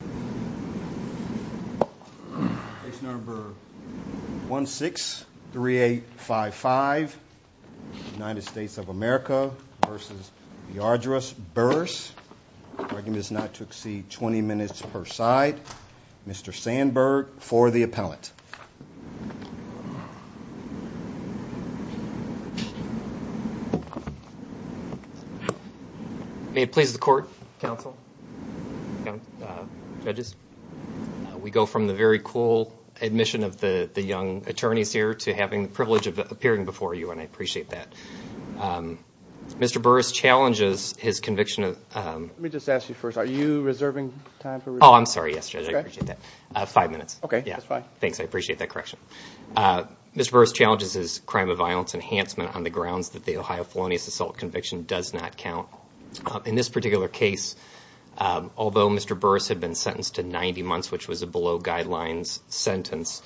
The argument is not to exceed 20 minutes per side. Mr. Sandberg for the appellate. May it please the court, counsel, judges. We go from the very cool admission of the young attorneys here to having the privilege of appearing before you, and I appreciate that. Mr. Burris challenges his conviction of Let me just ask you first, are you reserving time for review? Oh, I'm sorry, yes, Judge. I appreciate that. Five minutes. Okay, that's fine. Thanks. I appreciate that correction. Mr. Burris challenges his crime of violence enhancement on the grounds that the Ohio felonious assault conviction does not count. In this particular case, although Mr. Burris had been sentenced to 90 months, which was a below guidelines sentence,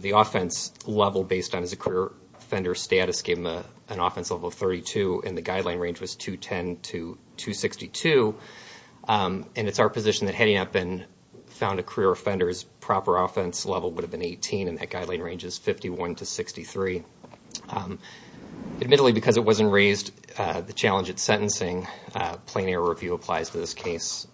the offense level based on his career offender status gave him an offense level of 32, and the guideline range was 210 to 262, and it's our position that heading up and found a career offender's proper offense level would have been 18, and that guideline range is 51 to 63. Admittedly, because it wasn't raised, the challenge at sentencing, plain air review applies to this case.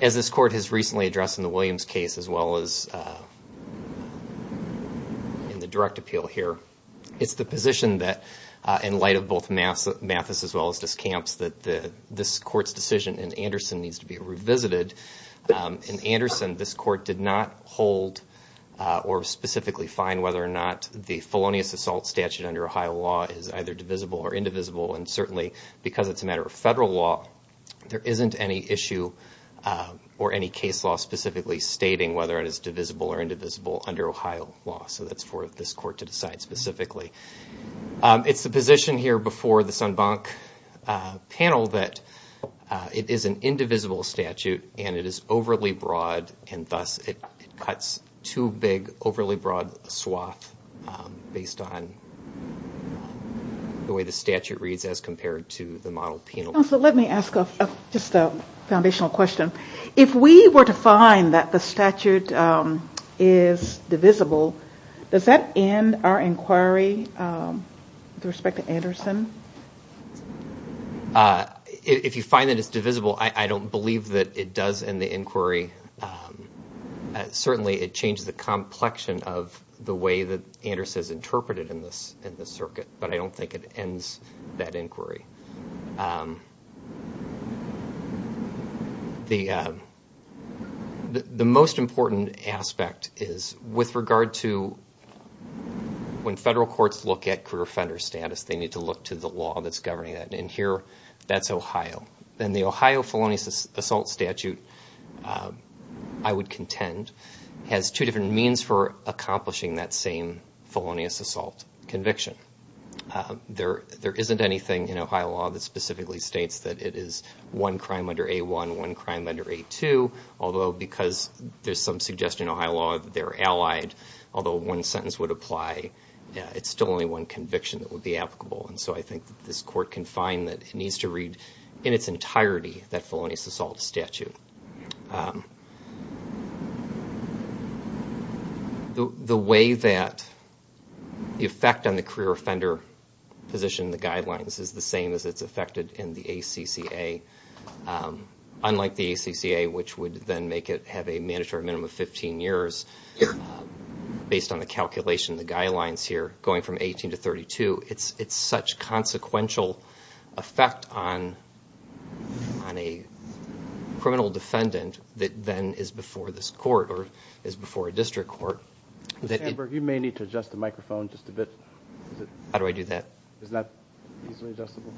As this court has recently addressed in the Williams case, as well as in the direct appeal here, it's the position that in light of both Mathis as well as Discamps, that this court's decision in Anderson needs to be revisited. In Anderson, this court did not hold or specifically find whether or not the felonious assault statute under Ohio law is either divisible or indivisible, and certainly because it's a matter of federal law, there isn't any issue or any case law specifically stating whether it is divisible or indivisible under Ohio law. So that's for this court to decide specifically. It's the position here before the Sundbank panel that it is an indivisible statute, and it is overly broad, and thus it cuts too big, overly broad a swath based on the way the statute reads as compared to the model penal law. Let me ask just a foundational question. If we were to find that the statute is divisible, does that end our inquiry with respect to Anderson? If you find that it's divisible, I don't believe that it does end the inquiry. Certainly it changes the complexion of the way that Anderson is interpreted in this circuit, but I don't think it ends that inquiry. The most important aspect is with regard to when federal courts look at career offender status, they need to look to the law that's governing that, and here that's Ohio. The Ohio felonious assault statute, I would contend, has two different means for accomplishing that same felonious assault conviction. There isn't anything in Ohio law that specifically states that it is one crime under A1, one crime under A2, although because there's some suggestion in Ohio law that they're allied, although one sentence would apply, it's still only one conviction that would be applicable, and so I think that this court can find that it needs to read in its entirety that felonious assault statute. The way that the effect on the career offender position in the guidelines is the same as it's affected in the ACCA, unlike the ACCA, which would then make it have a mandatory minimum of 15 years based on the calculation of the guidelines here, going from 18 to 32, it's such consequential effect on a criminal defendant that then is before this court, or is before a district court. Sam Berg, you may need to adjust the microphone just a bit. How do I do that? Is that easily adjustable?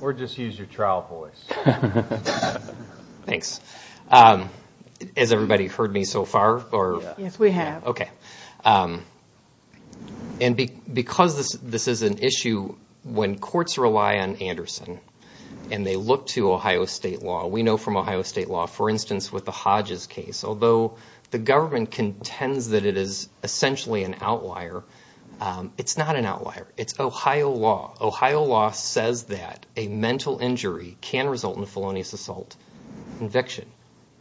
Or just use your trial voice. Thanks. Has everybody heard me so far? Yes, we have. Okay. And because this is an issue, when courts rely on Anderson, and they look to Ohio state law, we know from Ohio state law, for instance, with the Hodges case, although the government contends that it is essentially an outlier, it's not an outlier. It's Ohio law. Ohio law says that a mental injury can result in a felonious assault conviction,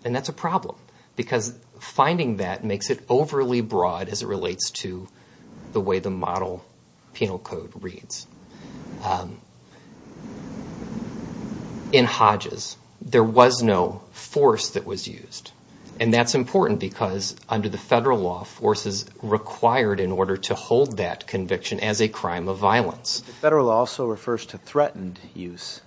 and that's a problem, because finding that makes it overly broad as it relates to the way the model penal code reads. In Hodges, there was no force that was used, and that's important because under the federal law, force is required in order to hold that conviction as a crime of violence. Federal law also refers to threatened use.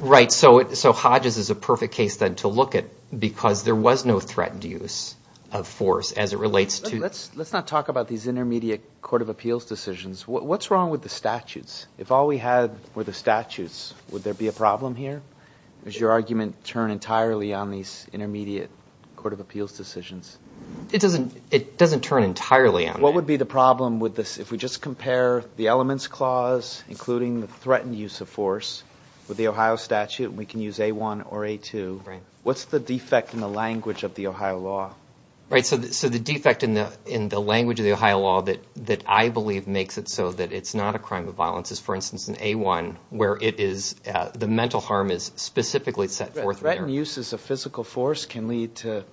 Right. So Hodges is a perfect case, then, to look at, because there was no threatened use of force as it relates to... Let's not talk about these intermediate court of appeals decisions. What's wrong with the statutes? If all we had were the statutes, would there be a problem here? Does your argument turn entirely on these intermediate court of appeals decisions? It doesn't turn entirely on that. What would be the problem with this, if we just compare the elements clause, including the threatened use of force, with the Ohio statute, and we can use A1 or A2, what's the defect in the language of the Ohio law? Right. So the defect in the language of the Ohio law that I believe makes it so that it's not a crime of violence is, for instance, in A1, where the mental harm is specifically set forth there. Threatened use as a physical force can lead to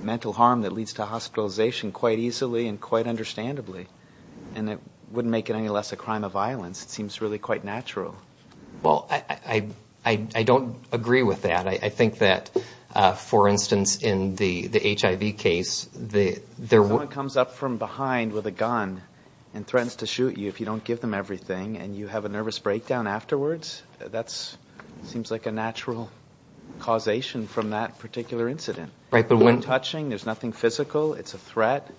mental harm that leads to hospitalization quite easily and quite understandably, and it wouldn't make it any less a crime of violence. It seems really quite natural. Well, I don't agree with that. I think that, for instance, in the HIV case, there were... If someone comes up from behind with a gun and threatens to shoot you if you don't give them everything, and you have a nervous breakdown afterwards, that seems like a natural causation from that particular incident. Right, but when... No touching, there's nothing physical, it's a threat,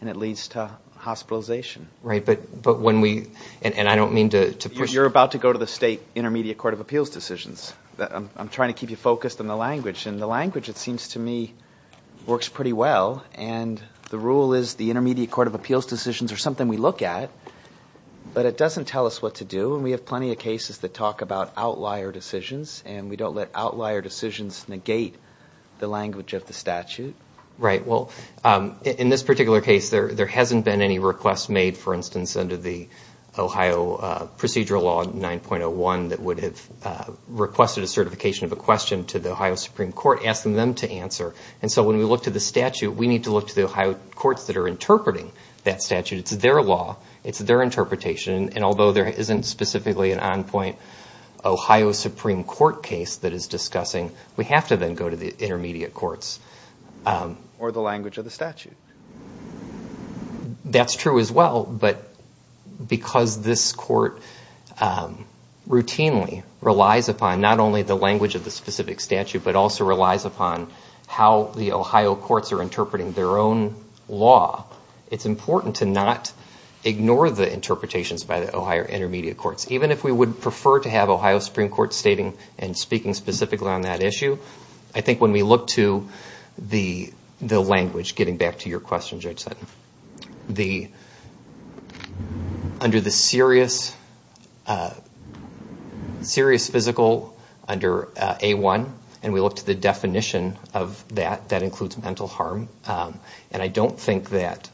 and it leads to hospitalization. Right. But when we... And I don't mean to... You're about to go to the state Intermediate Court of Appeals decisions. I'm trying to keep you focused on the language, and the language, it seems to me, works pretty well, and the rule is the Intermediate Court of Appeals decisions are something we look at, but it doesn't tell us what to do, and we have plenty of cases that talk about outlier decisions, and we don't let outlier decisions negate the language of the statute. Right. Well, in this particular case, there hasn't been any request made, for instance, under the Ohio Procedural Law 9.01 that would have requested a certification of a question to the Ohio Supreme Court, asking them to answer, and so when we look to the statute, we need to look to the Ohio courts that are interpreting that statute, it's their law, it's their interpretation, and although there isn't specifically an on-point Ohio Supreme Court case that is discussing, we have to then go to the intermediate courts. Or the language of the statute. That's true as well, but because this court routinely relies upon not only the language of the specific statute, but also relies upon how the Ohio courts are interpreting their own law, it's important to not ignore the interpretations by the Ohio intermediate courts. Even if we would prefer to have Ohio Supreme Court stating and speaking specifically on that issue, I think when we look to the language, getting back to your question, Judge Sutton, under the serious physical, under A-1, and we look to the definition of that, that includes mental harm, and I don't think that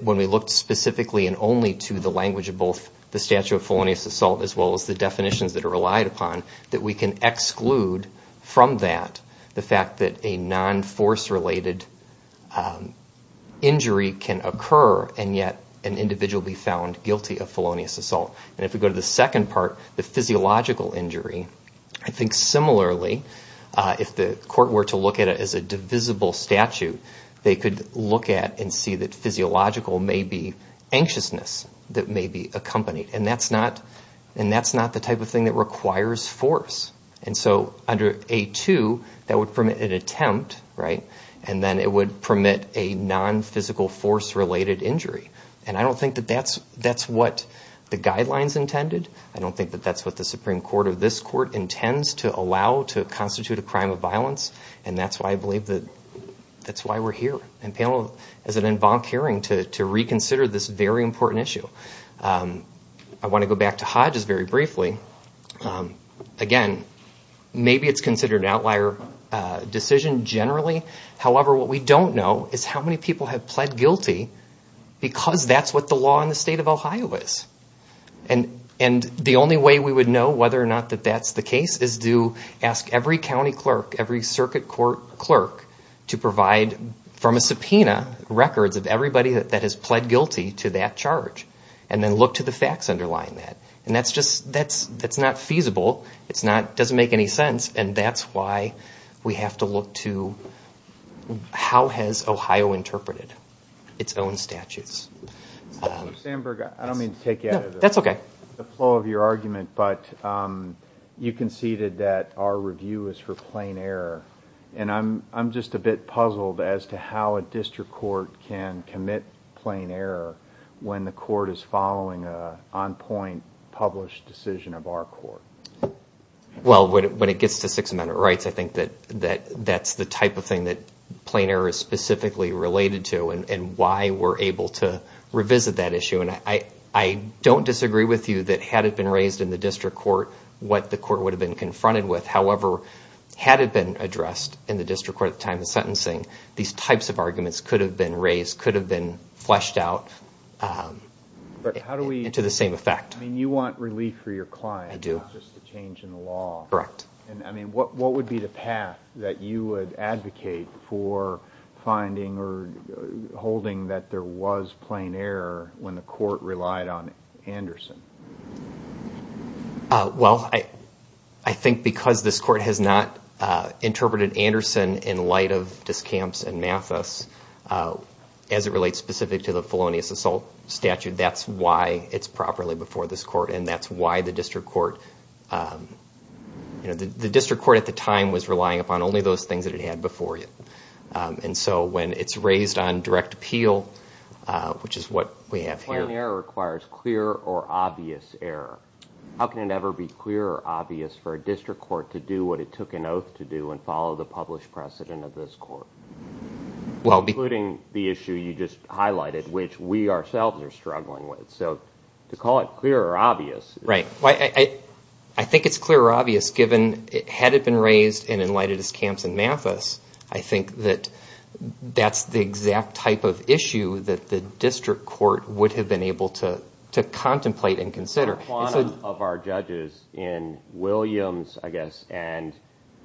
when we look specifically and only to the language of both the statute of felonious assault as well as the definitions that are relied upon, that we can exclude from that the fact that a non-force related injury can occur and yet an individual be found guilty of felonious assault. And if we go to the second part, the physiological injury, I think similarly, if the court were to look at it as a divisible statute, they could look at and see that physiological may be anxiousness that may be accompanied, and that's not the type of thing that requires force. And so under A-2, that would permit an attempt, right, and then it would permit a non-physical force related injury. And I don't think that that's what the guidelines intended, I don't think that that's what the Supreme Court of this court intends to allow to constitute a crime of violence, and that's why I believe that that's why we're here in panel as an en banc hearing to reconsider this very important issue. I want to go back to Hodges very briefly. Again, maybe it's considered an outlier decision generally, however, what we don't know is how many people have pled guilty because that's what the law in the state of Ohio is. And the only way we would know whether or not that that's the case is to ask every county clerk, every circuit court clerk to provide from a subpoena records of everybody that has pled guilty to that charge, and then look to the facts underlying that. And that's just, that's not feasible, it's not, it doesn't make any sense, and that's why we have to look to how has Ohio interpreted its own statutes. Mr. Sandberg, I don't mean to take you out of the flow of your argument, but you conceded that our review is for plain error, and I'm just a bit puzzled as to how a district court can commit plain error when the court is following an on-point published decision of our court. Well, when it gets to Sixth Amendment rights, I think that that's the type of thing that plain error is specifically related to, and why we're able to revisit that issue. And I don't disagree with you that had it been raised in the district court, what the court would have been confronted with. However, had it been addressed in the district court at the time of sentencing, these types of arguments could have been raised, could have been fleshed out into the same effect. You want relief for your client, not just a change in the law. What would be the path that you would advocate for finding or holding that there was plain error? Well, I think because this court has not interpreted Anderson in light of Discamps and Mathis as it relates specifically to the felonious assault statute, that's why it's properly before this court, and that's why the district court at the time was relying upon only those things that it had before it. And so when it's raised on direct appeal, which is what we have here. If plain error requires clear or obvious error, how can it ever be clear or obvious for a district court to do what it took an oath to do and follow the published precedent of this court, including the issue you just highlighted, which we ourselves are struggling with? So to call it clear or obvious... I think it's clear or obvious given, had it been raised in light of Discamps and Mathis, I think that that's the exact type of issue that the district court would have been able to contemplate and consider. A quantum of our judges in Williams, I guess, and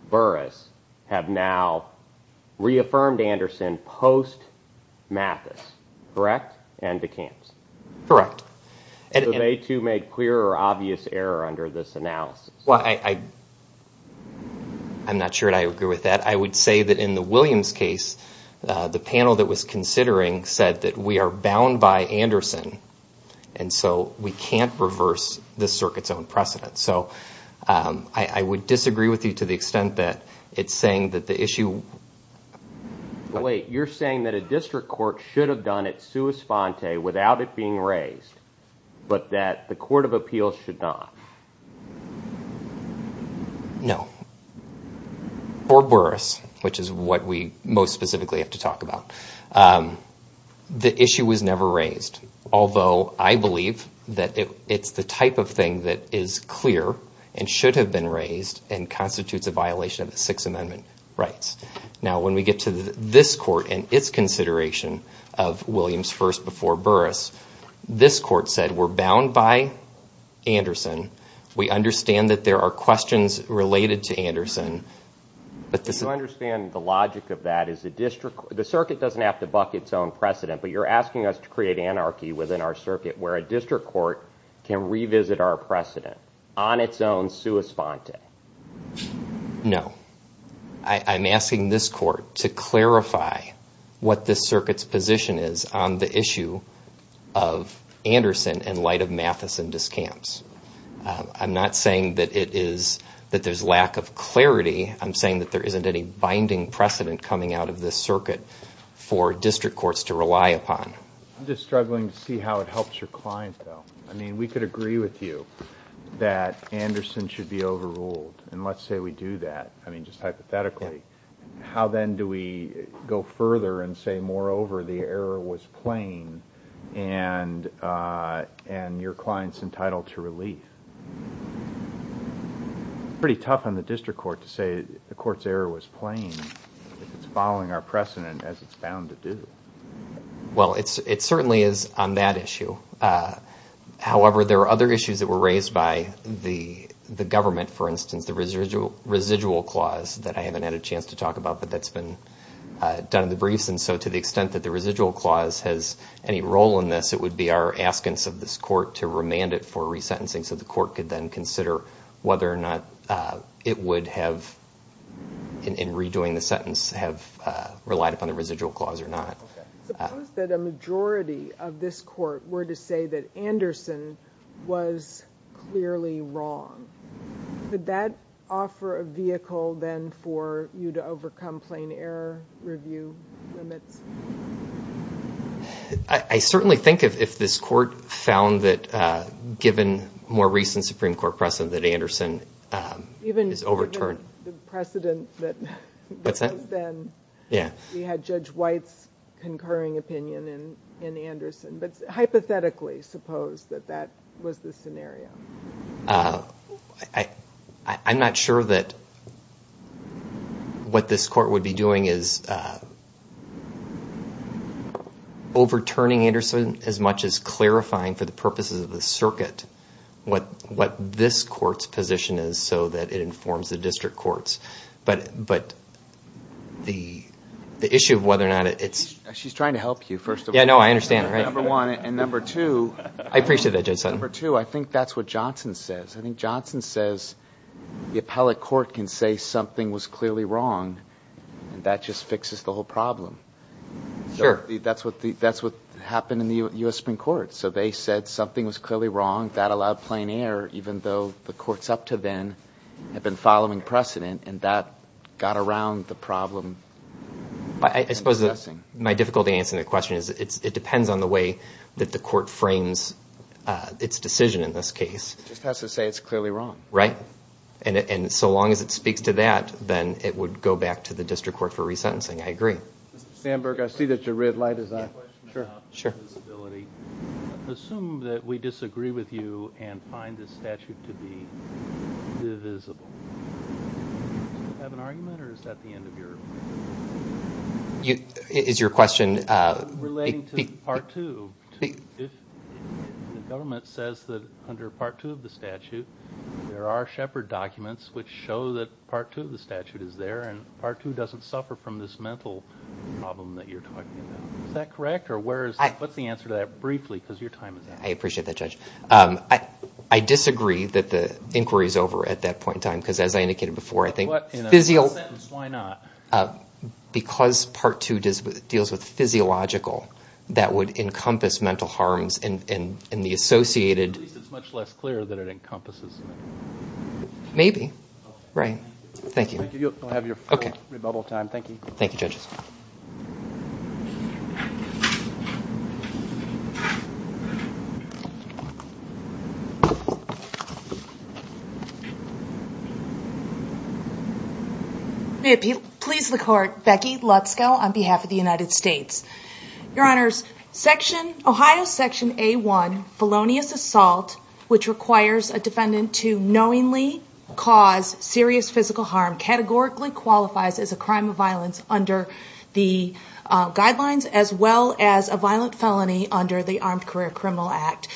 Burris have now reaffirmed Anderson post Mathis, correct? And to Camps. Correct. So they too made clear or obvious error under this analysis. Well, I'm not sure I agree with that. I would say that in the Williams case, the panel that was considering said that we are bound by Anderson, and so we can't reverse the circuit's own precedent. So I would disagree with you to the extent that it's saying that the issue... Wait, you're saying that a district court should have done it sua sponte without it being raised, but that the court of appeals should not? No. For Burris, which is what we most specifically have to talk about, the issue was never raised. Although I believe that it's the type of thing that is clear and should have been raised and constitutes a violation of the Sixth Amendment rights. Now when we get to this court and its consideration of Williams first before Burris, this court said we're bound by Anderson. We understand that there are questions related to Anderson, but this... You understand the logic of that is the district... The circuit doesn't have to buck its own precedent, but you're asking us to create anarchy within our circuit where a district court can revisit our precedent on its own sua sponte. No. I'm asking this court to clarify what this circuit's position is on the issue of Anderson in light of Matheson discamps. I'm not saying that there's lack of clarity. I'm saying that there isn't any binding precedent coming out of this circuit for district courts to rely upon. I'm just struggling to see how it helps your client, though. We could agree with you that Anderson should be overruled, and let's say we do that. I mean, just hypothetically. How then do we go further and say, moreover, the error was plain, and your client's entitled to relief? It's pretty tough on the district court to say the court's error was plain if it's following our precedent as it's bound to do. Well, it certainly is on that issue. However, there are other issues that were raised by the government, for instance, the residual clause that I haven't had a chance to talk about, but that's been done in the briefs. And so to the extent that the residual clause has any role in this, it would be our askance of this court to remand it for resentencing so the court could then consider whether or not it would have, in redoing the sentence, have relied upon the residual clause or not. Suppose that a majority of this court were to say that Anderson was clearly wrong. Could that offer a vehicle then for you to overcome plain error review limits? I certainly think if this court found that, given more recent Supreme Court precedent, that Anderson is overturned. Even given the precedent that was then, we had Judge White's concurring opinion in Anderson. But hypothetically, suppose that that was the scenario. I'm not sure that what this court would be doing is overturning Anderson as much as clarifying for the purposes of the circuit what this court's position is so that it informs the district courts. But the issue of whether or not it's... She's trying to help you, first of all. Yeah, no, I understand. Number one. And number two... I appreciate that, Judge Sutton. Number two, I think that's what Johnson says. I think Johnson says the appellate court can say something was clearly wrong and that just fixes the whole problem. That's what happened in the U.S. Supreme Court. So they said something was clearly wrong. That allowed plain error, even though the courts up to then had been following precedent and that got around the problem. I suppose my difficulty in answering the question is it depends on the way that the court frames its decision in this case. It just has to say it's clearly wrong. Right. And so long as it speaks to that, then it would go back to the district court for resentencing. I agree. Mr. Sandberg, I see that your red light is on. Sure. Assume that we disagree with you and find this statute to be divisible. Do you have an argument or is that the end of your... Is your question... Relating to Part 2, if the government says that under Part 2 of the statute, there are Shepard documents which show that Part 2 of the statute is there and Part 2 doesn't suffer from this mental problem that you're talking about, is that correct or what's the answer to that briefly? Because your time is up. I appreciate that, Judge. I disagree that the inquiry is over at that point in time because as I indicated before, I think... But in a sentence, why not? Because Part 2 deals with physiological that would encompass mental harms and the associated... At least it's much less clear that it encompasses mental harm. Maybe. Right. Thank you. You'll have your rebubble time. Thank you. Thank you, judges. May it please the court, Becky Lutzko on behalf of the United States. Your honors, Ohio Section A1, felonious assault, which requires a defendant to knowingly cause serious physical harm, categorically qualifies as a crime of violence under the guidelines as well as a violent felony under the Armed Career Criminal Act.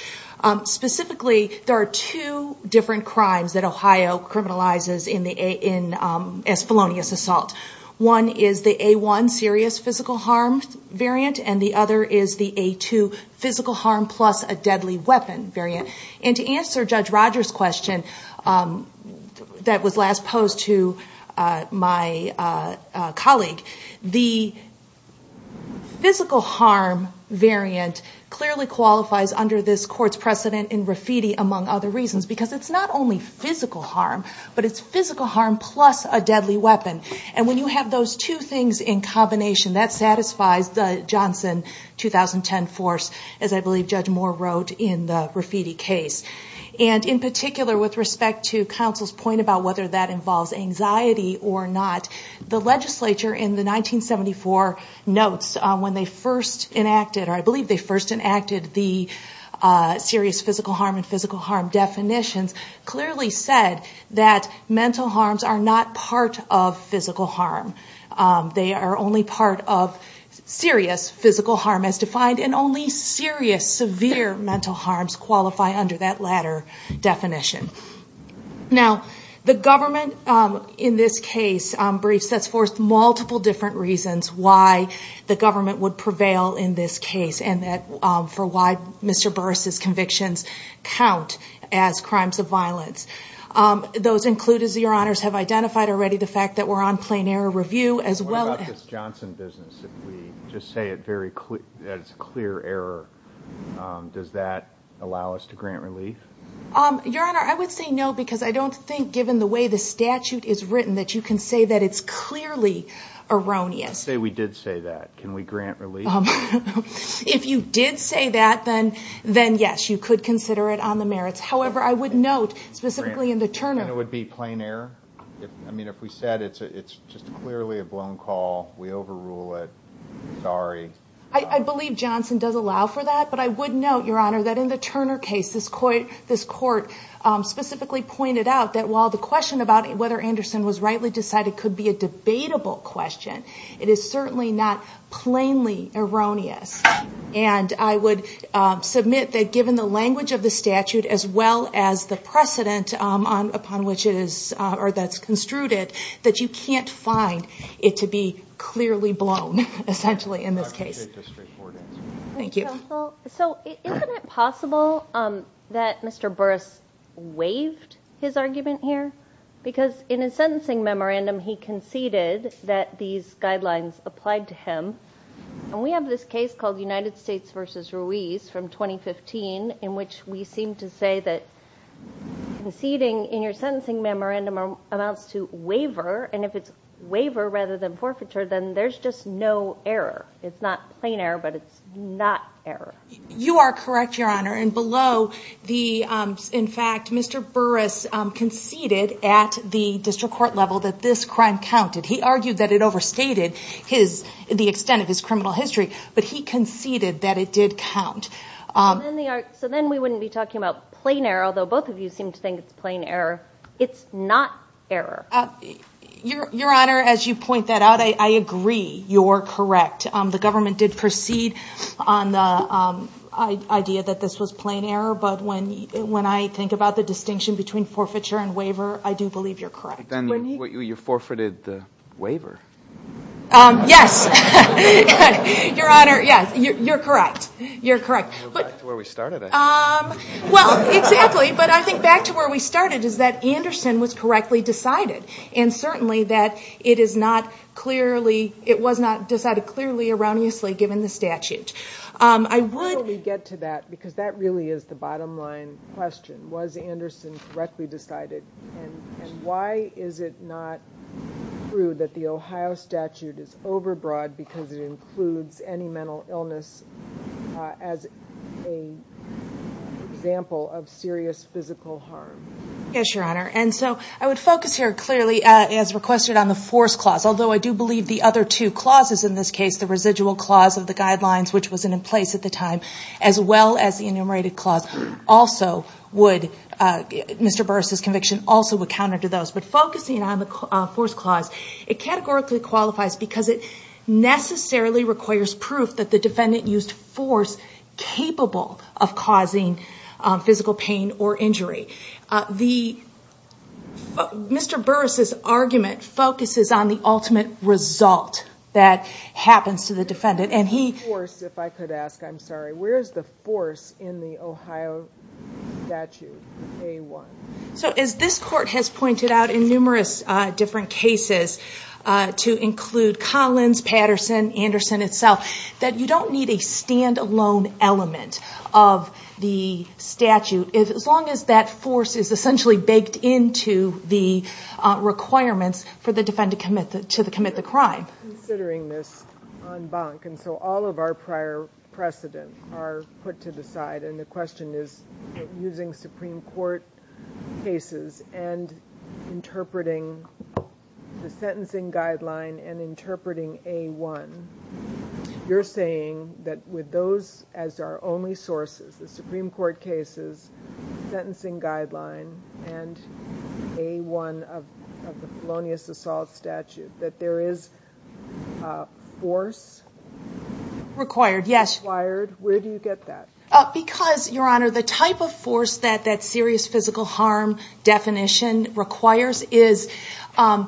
Specifically, there are two different crimes that Ohio criminalizes as felonious assault. One is the A1 serious physical harm variant and the other is the A2 physical harm plus a deadly weapon variant. To answer Judge Rogers' question that was last posed to my colleague, the physical harm variant clearly qualifies under this court's precedent in graffiti among other reasons because it's not only physical harm, but it's physical harm plus a deadly weapon. When you have those two things in combination, that satisfies the Johnson 2010 force as I said. In particular, with respect to counsel's point about whether that involves anxiety or not, the legislature in the 1974 notes when they first enacted or I believe they first enacted the serious physical harm and physical harm definitions clearly said that mental harms are not part of physical harm. They are only part of serious physical harm as defined and only serious severe mental harms qualify under that latter definition. The government in this case briefs us for multiple different reasons why the government would prevail in this case and for why Mr. Burris' convictions count as crimes of violence. Those included, your honors, have identified already the fact that we're on plain error review as well as... If we just say that it's clear error, does that allow us to grant relief? Your honor, I would say no because I don't think given the way the statute is written that you can say that it's clearly erroneous. Let's say we did say that. Can we grant relief? If you did say that, then yes, you could consider it on the merits. However, I would note specifically in the Turner... And it would be plain error? I mean, if we said it's just clearly a blown call, we overrule it, sorry. I believe Johnson does allow for that, but I would note, your honor, that in the Turner case this court specifically pointed out that while the question about whether Anderson was rightly decided could be a debatable question, it is certainly not plainly erroneous. And I would submit that given the language of the statute as well as the precedent upon which it is or that's construed it, that you can't find it to be clearly blown essentially in this case. I appreciate the straightforward answer. Thank you. Thank you, counsel. So isn't it possible that Mr. Burris waived his argument here? Because in his sentencing memorandum, he conceded that these guidelines applied to him. And we have this case called United States versus Ruiz from 2015 in which we seem to say that conceding in your sentencing memorandum amounts to waiver, and if it's waiver rather than forfeiture, then there's just no error. It's not plain error, but it's not error. You are correct, your honor, and below the... In fact, Mr. Burris conceded at the district court level that this crime counted. He argued that it overstated the extent of his criminal history, but he conceded that it did count. So then we wouldn't be talking about plain error, although both of you seem to think it's plain error. It's not error. Your honor, as you point that out, I agree. You're correct. The government did proceed on the idea that this was plain error, but when I think about the distinction between forfeiture and waiver, I do believe you're correct. But then you forfeited the waiver. Yes. Your honor, yes. You're correct. Back to where we started, I think. Well, exactly. But I think back to where we started is that Anderson was correctly decided, and certainly that it is not clearly... It was not decided clearly, erroneously, given the statute. I would... How do we get to that? Because that really is the bottom line question. Was Anderson correctly decided, and why is it not true that the Ohio statute is overbroad because it includes any mental illness as an example of serious physical harm? Yes, your honor. And so, I would focus here clearly, as requested, on the force clause. Although I do believe the other two clauses in this case, the residual clause of the guidelines, which wasn't in place at the time, as well as the enumerated clause, also would... Mr. Burris' conviction also would counter to those. But focusing on the force clause, it categorically qualifies because it necessarily requires proof that the defendant used force capable of causing physical pain or injury. Mr. Burris' argument focuses on the ultimate result that happens to the defendant, and he... Where's the force, if I could ask? I'm sorry. Where's the force in the Ohio statute, A-1? So, as this court has pointed out in numerous different cases, to include Collins, Patterson, Anderson itself, that you don't need a stand-alone element of the statute, as long as that force is essentially baked into the requirements for the defendant to commit the crime. Considering this en banc, and so all of our prior precedent are put to the side, and the Supreme Court cases, and interpreting the sentencing guideline, and interpreting A-1, you're saying that with those as our only sources, the Supreme Court cases, sentencing guideline, and A-1 of the felonious assault statute, that there is a force... Required, yes. Required. Where do you get that? Because, Your Honor, the type of force that that serious physical harm definition requires is... I'm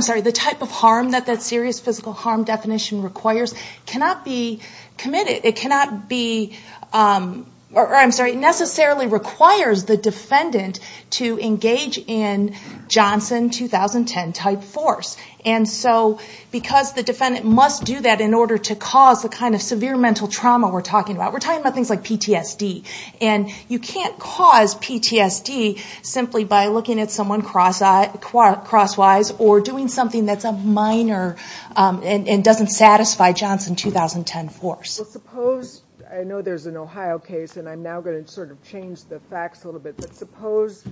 sorry, the type of harm that that serious physical harm definition requires cannot be committed. It cannot be... I'm sorry, it necessarily requires the defendant to engage in Johnson 2010 type force. And so, because the defendant must do that in order to cause the kind of severe mental trauma we're talking about. We're talking about things like PTSD. And you can't cause PTSD simply by looking at someone crosswise, or doing something that's a minor, and doesn't satisfy Johnson 2010 force. Well, suppose, I know there's an Ohio case, and I'm now going to sort of change the facts a little bit, but suppose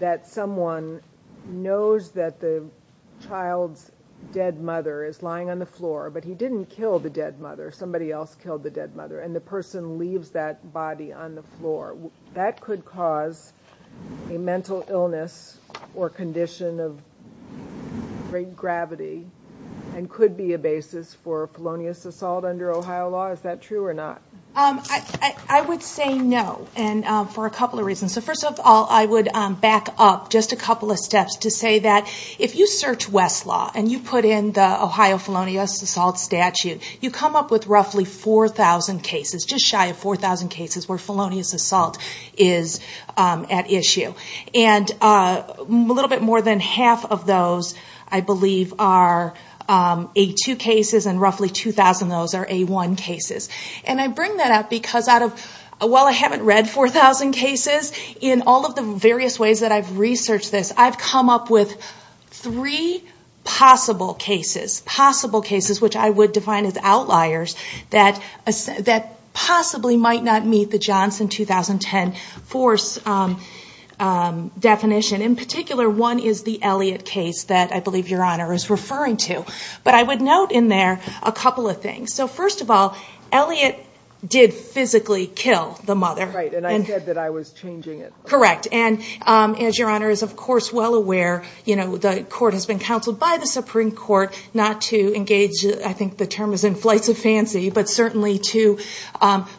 that someone knows that the child's dead mother is lying on the bed, and the person leaves that body on the floor. That could cause a mental illness, or condition of great gravity, and could be a basis for felonious assault under Ohio law. Is that true or not? I would say no, and for a couple of reasons. So first of all, I would back up just a couple of steps to say that if you search Westlaw, and you put in the Ohio felonious assault statute, you come up with roughly 4,000 cases. Just shy of 4,000 cases where felonious assault is at issue. And a little bit more than half of those, I believe, are A2 cases, and roughly 2,000 of those are A1 cases. And I bring that up because, while I haven't read 4,000 cases, in all of the various ways that I've researched this, I've come up with three possible cases, which I would define as outliers, that possibly might not meet the Johnson 2010 force definition. In particular, one is the Elliott case that I believe your Honor is referring to. But I would note in there a couple of things. So first of all, Elliott did physically kill the mother. Right, and I said that I was changing it. Correct, and as your Honor is of course well aware, the court has been counseled by the Supreme Court not to engage, I think the term is in flights of fancy, but certainly to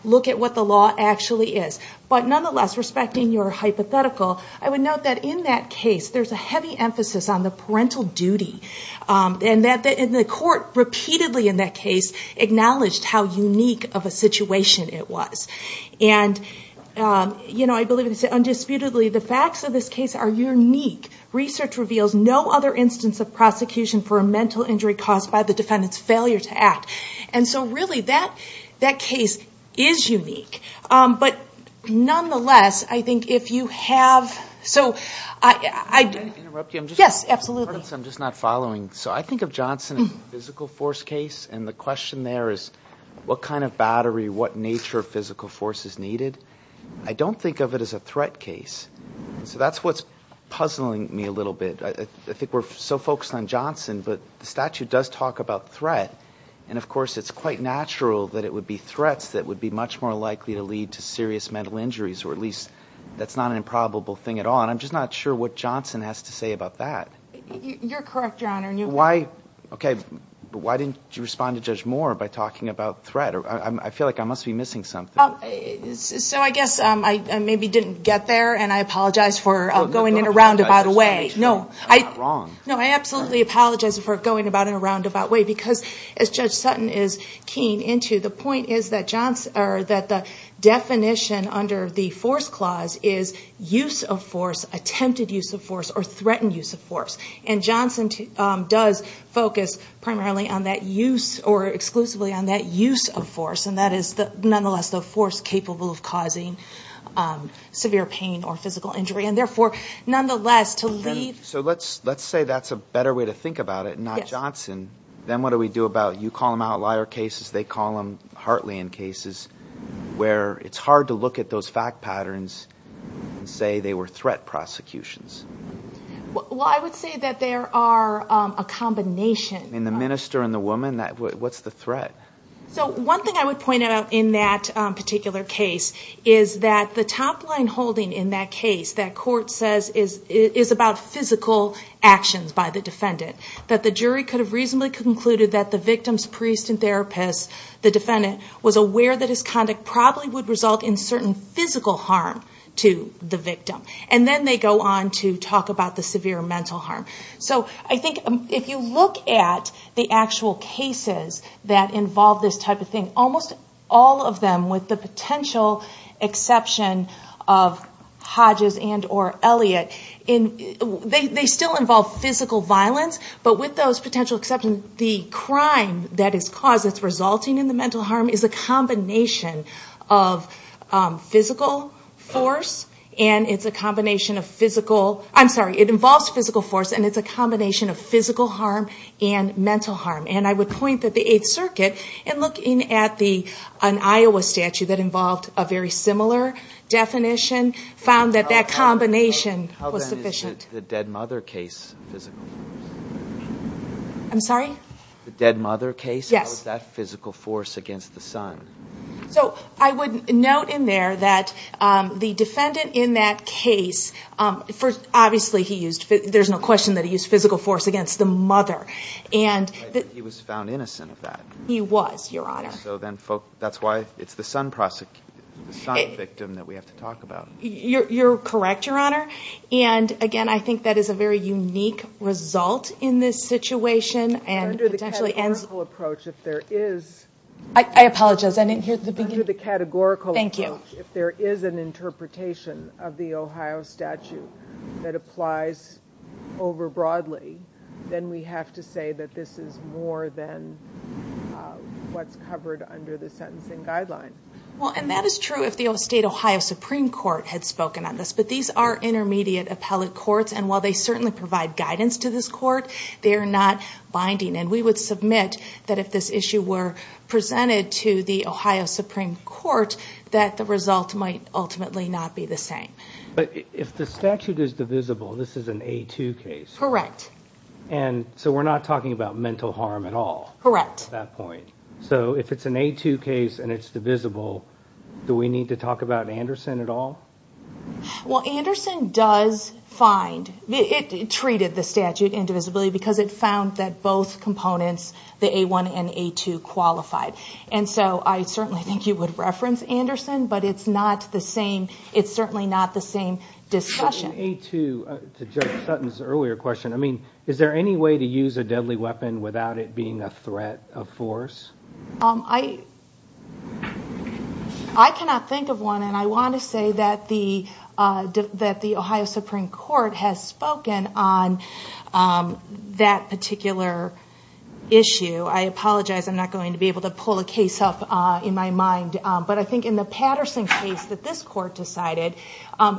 look at what the law actually is. But nonetheless, respecting your hypothetical, I would note that in that case, there's a heavy emphasis on the parental duty, and the court repeatedly in that case acknowledged how unique of a situation it was. And I believe it's undisputedly, the facts of this case are unique. Research reveals no other instance of prosecution for a mental injury caused by the defendant's failure to act. And so really, that case is unique. But nonetheless, I think if you have... So I... Can I interrupt you? I'm just... Yes, absolutely. Pardon me, I'm just not following. So I think of Johnson as a physical force case, and the question there is, what kind of battery, what nature of physical force is needed? I don't think of it as a threat case. So that's what's puzzling me a little bit. I think we're so focused on Johnson, but the statute does talk about threat, and of course it's quite natural that it would be threats that would be much more likely to lead to serious mental injuries, or at least, that's not an improbable thing at all, and I'm just not sure what Johnson has to say about that. You're correct, your Honor, and you... So why... Okay, but why didn't you respond to Judge Moore by talking about threat? I feel like I must be missing something. So I guess I maybe didn't get there, and I apologize for going in a roundabout way. No, I... You're not wrong. No, I absolutely apologize for going about in a roundabout way, because as Judge Sutton is keying into, the point is that the definition under the force clause is use of force, attempted use of force, or threatened use of force. And Johnson does focus primarily on that use, or exclusively on that use of force, and that is nonetheless the force capable of causing severe pain or physical injury, and therefore, nonetheless, to leave... So let's say that's a better way to think about it, not Johnson, then what do we do about, you call them outlier cases, they call them heartland cases, where it's hard to look at those fact patterns and say they were threat prosecutions. Well, I would say that there are a combination... In the minister and the woman, what's the threat? So one thing I would point out in that particular case is that the top line holding in that case that court says is about physical actions by the defendant, that the jury could have reasonably concluded that the victim's priest and therapist, the defendant, was aware that his conduct probably would result in certain physical harm to the victim, and then they go on to talk about the severe mental harm. So I think if you look at the actual cases that involve this type of thing, almost all of them, with the potential exception of Hodges and or Elliott, they still involve physical violence, but with those potential exceptions, the crime that is caused that's resulting in the mental harm is a combination of physical force, and it's a combination of physical I'm sorry, it involves physical force, and it's a combination of physical harm and mental harm. And I would point that the Eighth Circuit, in looking at an Iowa statute that involved a very similar definition, found that that combination was sufficient. How then is the dead mother case physical force? I'm sorry? The dead mother case? Yes. How is that physical force against the son? So I would note in there that the defendant in that case, obviously he used, there's no question that he used physical force against the mother, and I think he was found innocent of that. He was, Your Honor. So then that's why it's the son victim that we have to talk about. You're correct, Your Honor. And again, I think that is a very unique result in this situation, and Under the Kessler-Hurdle approach, if there is I apologize, I didn't hear the beginning Under the categorical approach, if there is an interpretation of the Ohio statute that applies over broadly, then we have to say that this is more than what's covered under the sentencing guideline. And that is true if the state Ohio Supreme Court had spoken on this, but these are intermediate appellate courts, and while they certainly provide guidance to this court, they are not going to admit that if this issue were presented to the Ohio Supreme Court, that the result might ultimately not be the same. But if the statute is divisible, this is an A2 case. Correct. And so we're not talking about mental harm at all. Correct. At that point. So if it's an A2 case and it's divisible, do we need to talk about Anderson at all? Well, Anderson does find, it treated the statute indivisibly because it found that both components the A1 and A2 qualified. And so I certainly think you would reference Anderson, but it's not the same, it's certainly not the same discussion. The A2, to Judge Sutton's earlier question, I mean, is there any way to use a deadly weapon without it being a threat of force? I cannot think of one, and I want to say that the Ohio Supreme Court has spoken on that particular issue. I apologize, I'm not going to be able to pull a case up in my mind. But I think in the Patterson case that this court decided,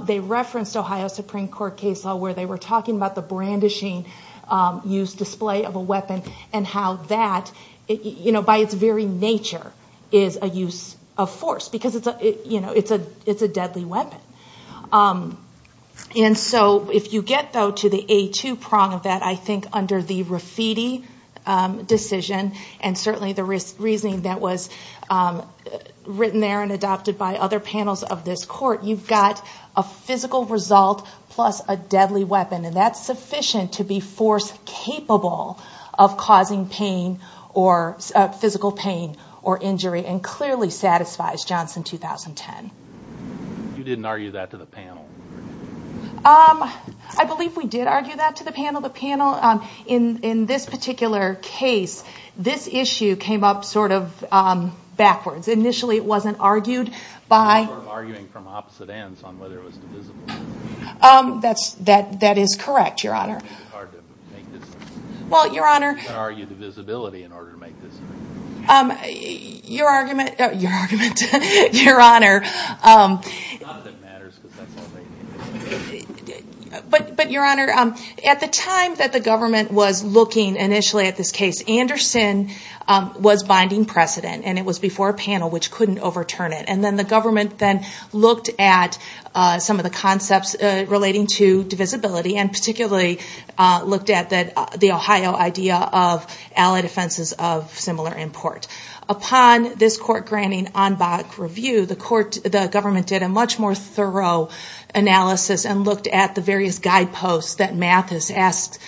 they referenced Ohio Supreme Court case law where they were talking about the brandishing use display of a weapon and how that, by its very nature, is a use of force because it's a deadly weapon. And so if you get though to the A2 prong of that, I think under the Rafiti decision and certainly the reasoning that was written there and adopted by other panels of this court, you've got a physical result plus a deadly weapon and that's sufficient to be force-capable of causing pain or physical pain or injury and clearly satisfies Johnson 2010. You didn't argue that to the panel? I believe we did argue that to the panel. The panel, in this particular case, this issue came up sort of backwards. Initially it wasn't argued by... You were sort of arguing from opposite ends on whether it was divisible. That is correct, Your Honor. It's hard to make this... Well, Your Honor... You can't argue divisibility in order to make this... Your argument, Your Honor... It's not that it matters because that's all they... But, Your Honor, at the time that the government was looking initially at this case, Anderson was binding precedent and it was before a panel which couldn't overturn it. And then the government then looked at some of the concepts relating to divisibility and particularly looked at the Ohio idea of allied offenses of similar import. Upon this court granting en bas review, the government did a much more thorough analysis and looked at the various guideposts that Mathis asked,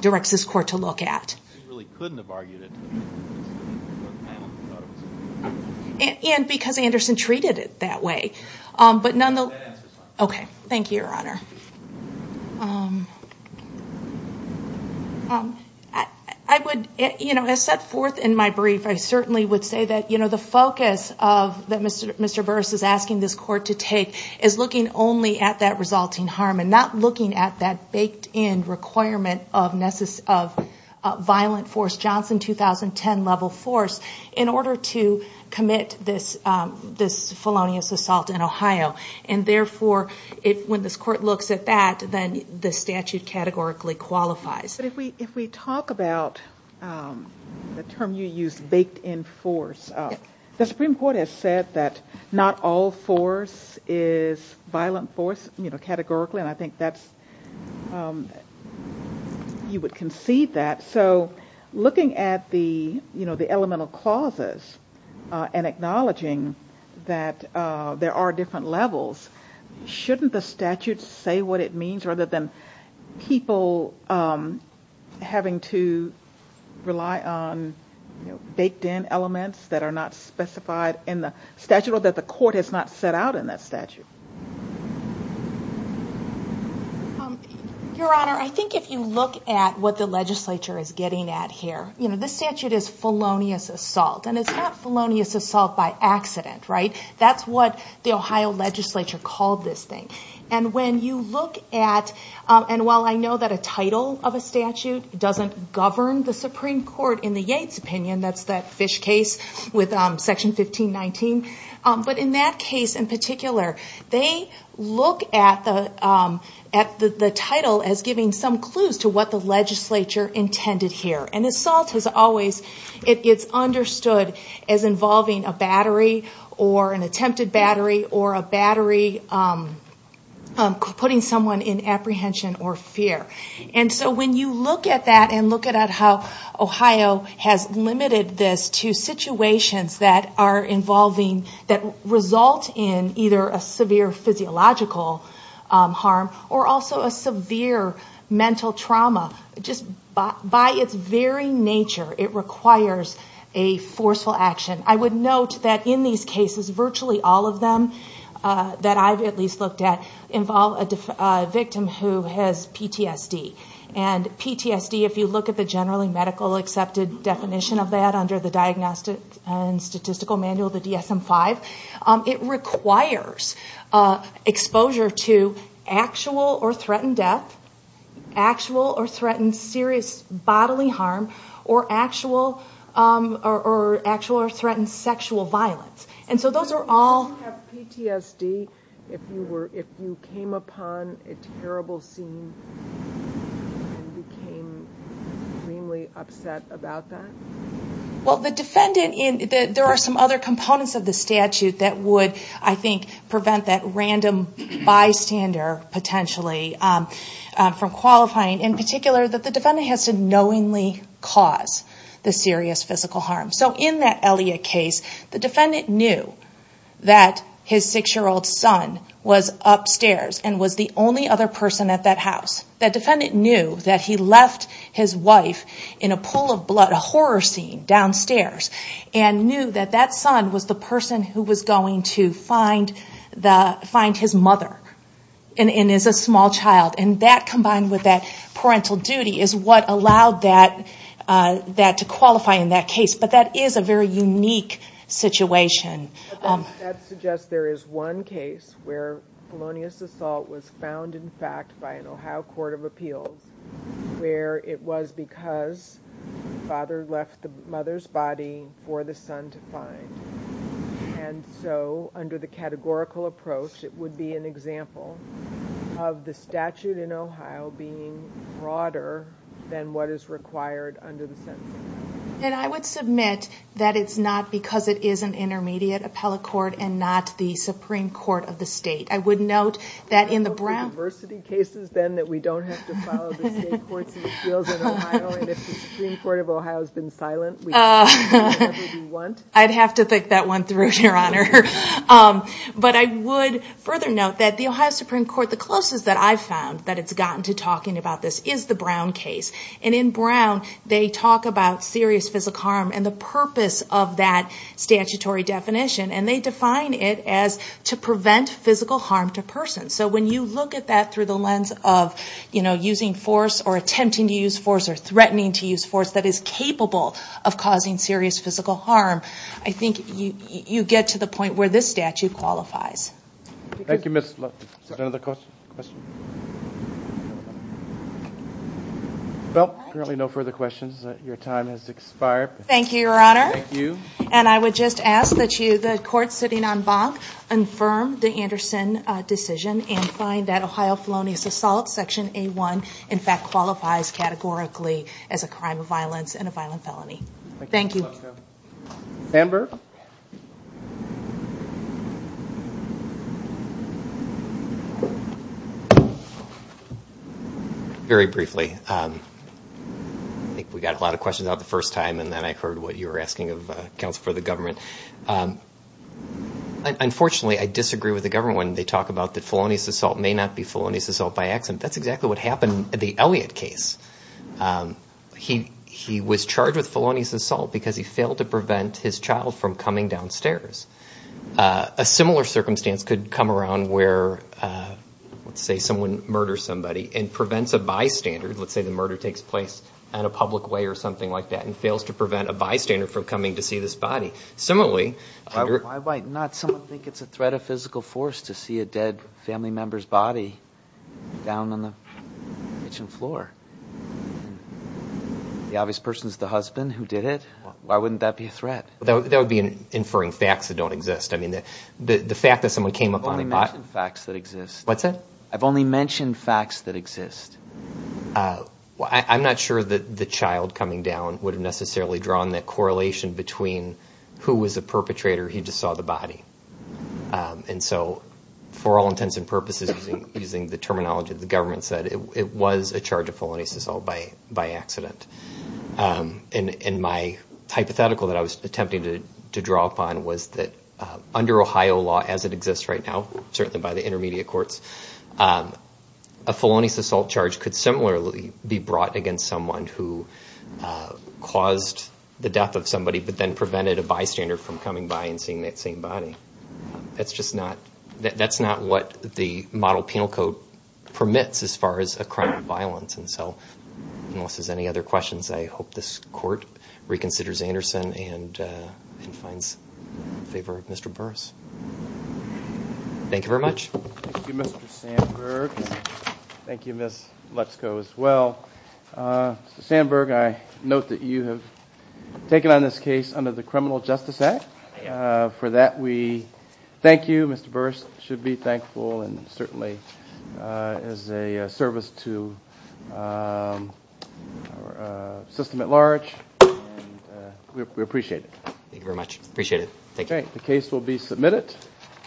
directs this court to look at. We really couldn't have argued it to the panel. The panel thought it was... And because Anderson treated it that way. That answers my question. Okay. Thank you, Your Honor. I would... As set forth in my brief, I certainly would say that the focus that Mr. Burris is asking this court to take is looking only at that resulting harm and not looking at that baked in requirement of violent force, Johnson 2010 level force, in order to commit this felonious assault in Ohio. And therefore, when this court looks at that, then the statute categorically qualifies. But if we talk about the term you used, baked in force, the Supreme Court has said that not all force is violent force, you know, categorically. And I think that's... You would concede that. So looking at the, you know, the elemental clauses and acknowledging that there are different levels, shouldn't the statute say what it means, rather than people having to rely on, you know, baked in elements that are not specified in the statute or that the court has not set out in that statute? Your Honor, I think if you look at what the legislature is getting at here, you know, this statute is felonious assault. And it's not felonious assault by accident, right? That's what the Ohio legislature called this thing. And when you look at, and while I know that a title of a statute doesn't govern the Supreme Court in the Yates opinion, that's that fish case with Section 1519, but in that case in particular, they look at the title as giving some clues to what the legislature intended here. And assault has always, it's understood as involving a battery or an attempted battery or a battery putting someone in apprehension or fear. And so when you look at that and look at how Ohio has limited this to situations that are involving, that result in either a severe physiological harm or also a severe mental trauma. Just by its very nature, it requires a forceful action. I would note that in these cases, virtually all of them that I've at least looked at involve a victim who has PTSD. And PTSD, if you look at the generally medical accepted definition of that under the Diagnostic and Statistical Manual, the DSM-5, it requires exposure to actual or threatened death, actual or threatened serious bodily harm, or actual or threatened sexual violence. And so those are all... Do you have PTSD if you came upon a terrible scene and became extremely upset about that? Well, the defendant... There are some other components of the statute that would, I think, prevent that random bystander potentially from qualifying. In particular, the defendant has to knowingly cause the serious physical harm. So in that Elliot case, the defendant knew that his 6-year-old son was upstairs and was the only other person at that house. That defendant knew that he left his wife in a pool of blood, a horror scene downstairs, and knew that that son was the person who was going to find his mother and is a small child. And that, combined with that parental duty, is what allowed that to qualify in that case. But that is a very unique situation. But that suggests there is one case where felonious assault was found, in fact, by an Ohio court of appeals where it was because the father left the mother's body for the son to find. And so under the categorical approach, it would be an example of the statute in Ohio being broader than what is required under the sentencing. And I would submit that it's not because it is an intermediate appellate court and not the Supreme Court of the state. I would note that in the Brown case... So there are diversity cases, then, that we don't have to follow the state courts and appeals in Ohio, and if the Supreme Court of Ohio has been silent, we can do whatever we want? I'd have to think that one through, Your Honor. But I would further note that the Ohio Supreme Court, the closest that I've found that it's gotten to talking about this, is the Brown case. And in Brown, they talk about serious physical harm and the purpose of that statutory definition. And they define it as to prevent physical harm to persons. So when you look at that through the lens of using force or attempting to use force or threatening to use force that is capable of causing serious physical harm, I think you get to the point where this statute qualifies. Thank you, Ms. Lupton. Is there another question? Well, apparently no further questions. Your time has expired. Thank you, Your Honor. Thank you. And I would just ask that the court sitting on Bonk confirm the Anderson decision and find that Ohio felonious assault, Section A1, in fact qualifies categorically as a crime of violence and a violent felony. Thank you. Amber? Very briefly. I think we got a lot of questions out the first time, and then I heard what you were asking of counsel for the government. Unfortunately, I disagree with the government when they talk about that felonious assault may not be felonious assault by accident. That's exactly what happened in the Elliott case. He was charged with felonious assault because he failed to prevent his child from coming downstairs. A similar circumstance could come around where, let's say, someone murders somebody and prevents a bystander, let's say the murder takes place in a public way or something like that, and fails to prevent a bystander from coming to see this body. Similarly... Why might not someone think it's a threat of physical force to see a dead family member's body down on the kitchen floor? The obvious person is the husband who did it. Why wouldn't that be a threat? That would be inferring facts that don't exist. I mean, the fact that someone came up on the pot... I've only mentioned facts that exist. What's that? I've only mentioned facts that exist. I'm not sure that the child coming down would have necessarily drawn that correlation between who was the perpetrator, he just saw the body. And so, for all intents and purposes, using the terminology that the government said, it was a charge of felonious assault by accident. And my hypothetical that I was attempting to draw upon was that under Ohio law as it exists right now, certainly by the intermediate courts, a felonious assault charge could similarly be brought against someone who caused the death of somebody but then prevented a bystander from coming by and seeing that same body. That's just not... That's not what the model penal code permits as far as a crime of violence. And so, unless there's any other questions, I hope this court reconsiders Anderson and finds favor of Mr. Burris. Thank you very much. Thank you, Mr. Sandberg. Thank you, Ms. Lutzko, as well. Mr. Sandberg, I note that you have taken on this case under the Criminal Justice Act. For that, we thank you. Mr. Burris should be thankful and certainly is a service to our system at large. We appreciate it. Thank you very much. Appreciate it. Thank you. The case will be submitted.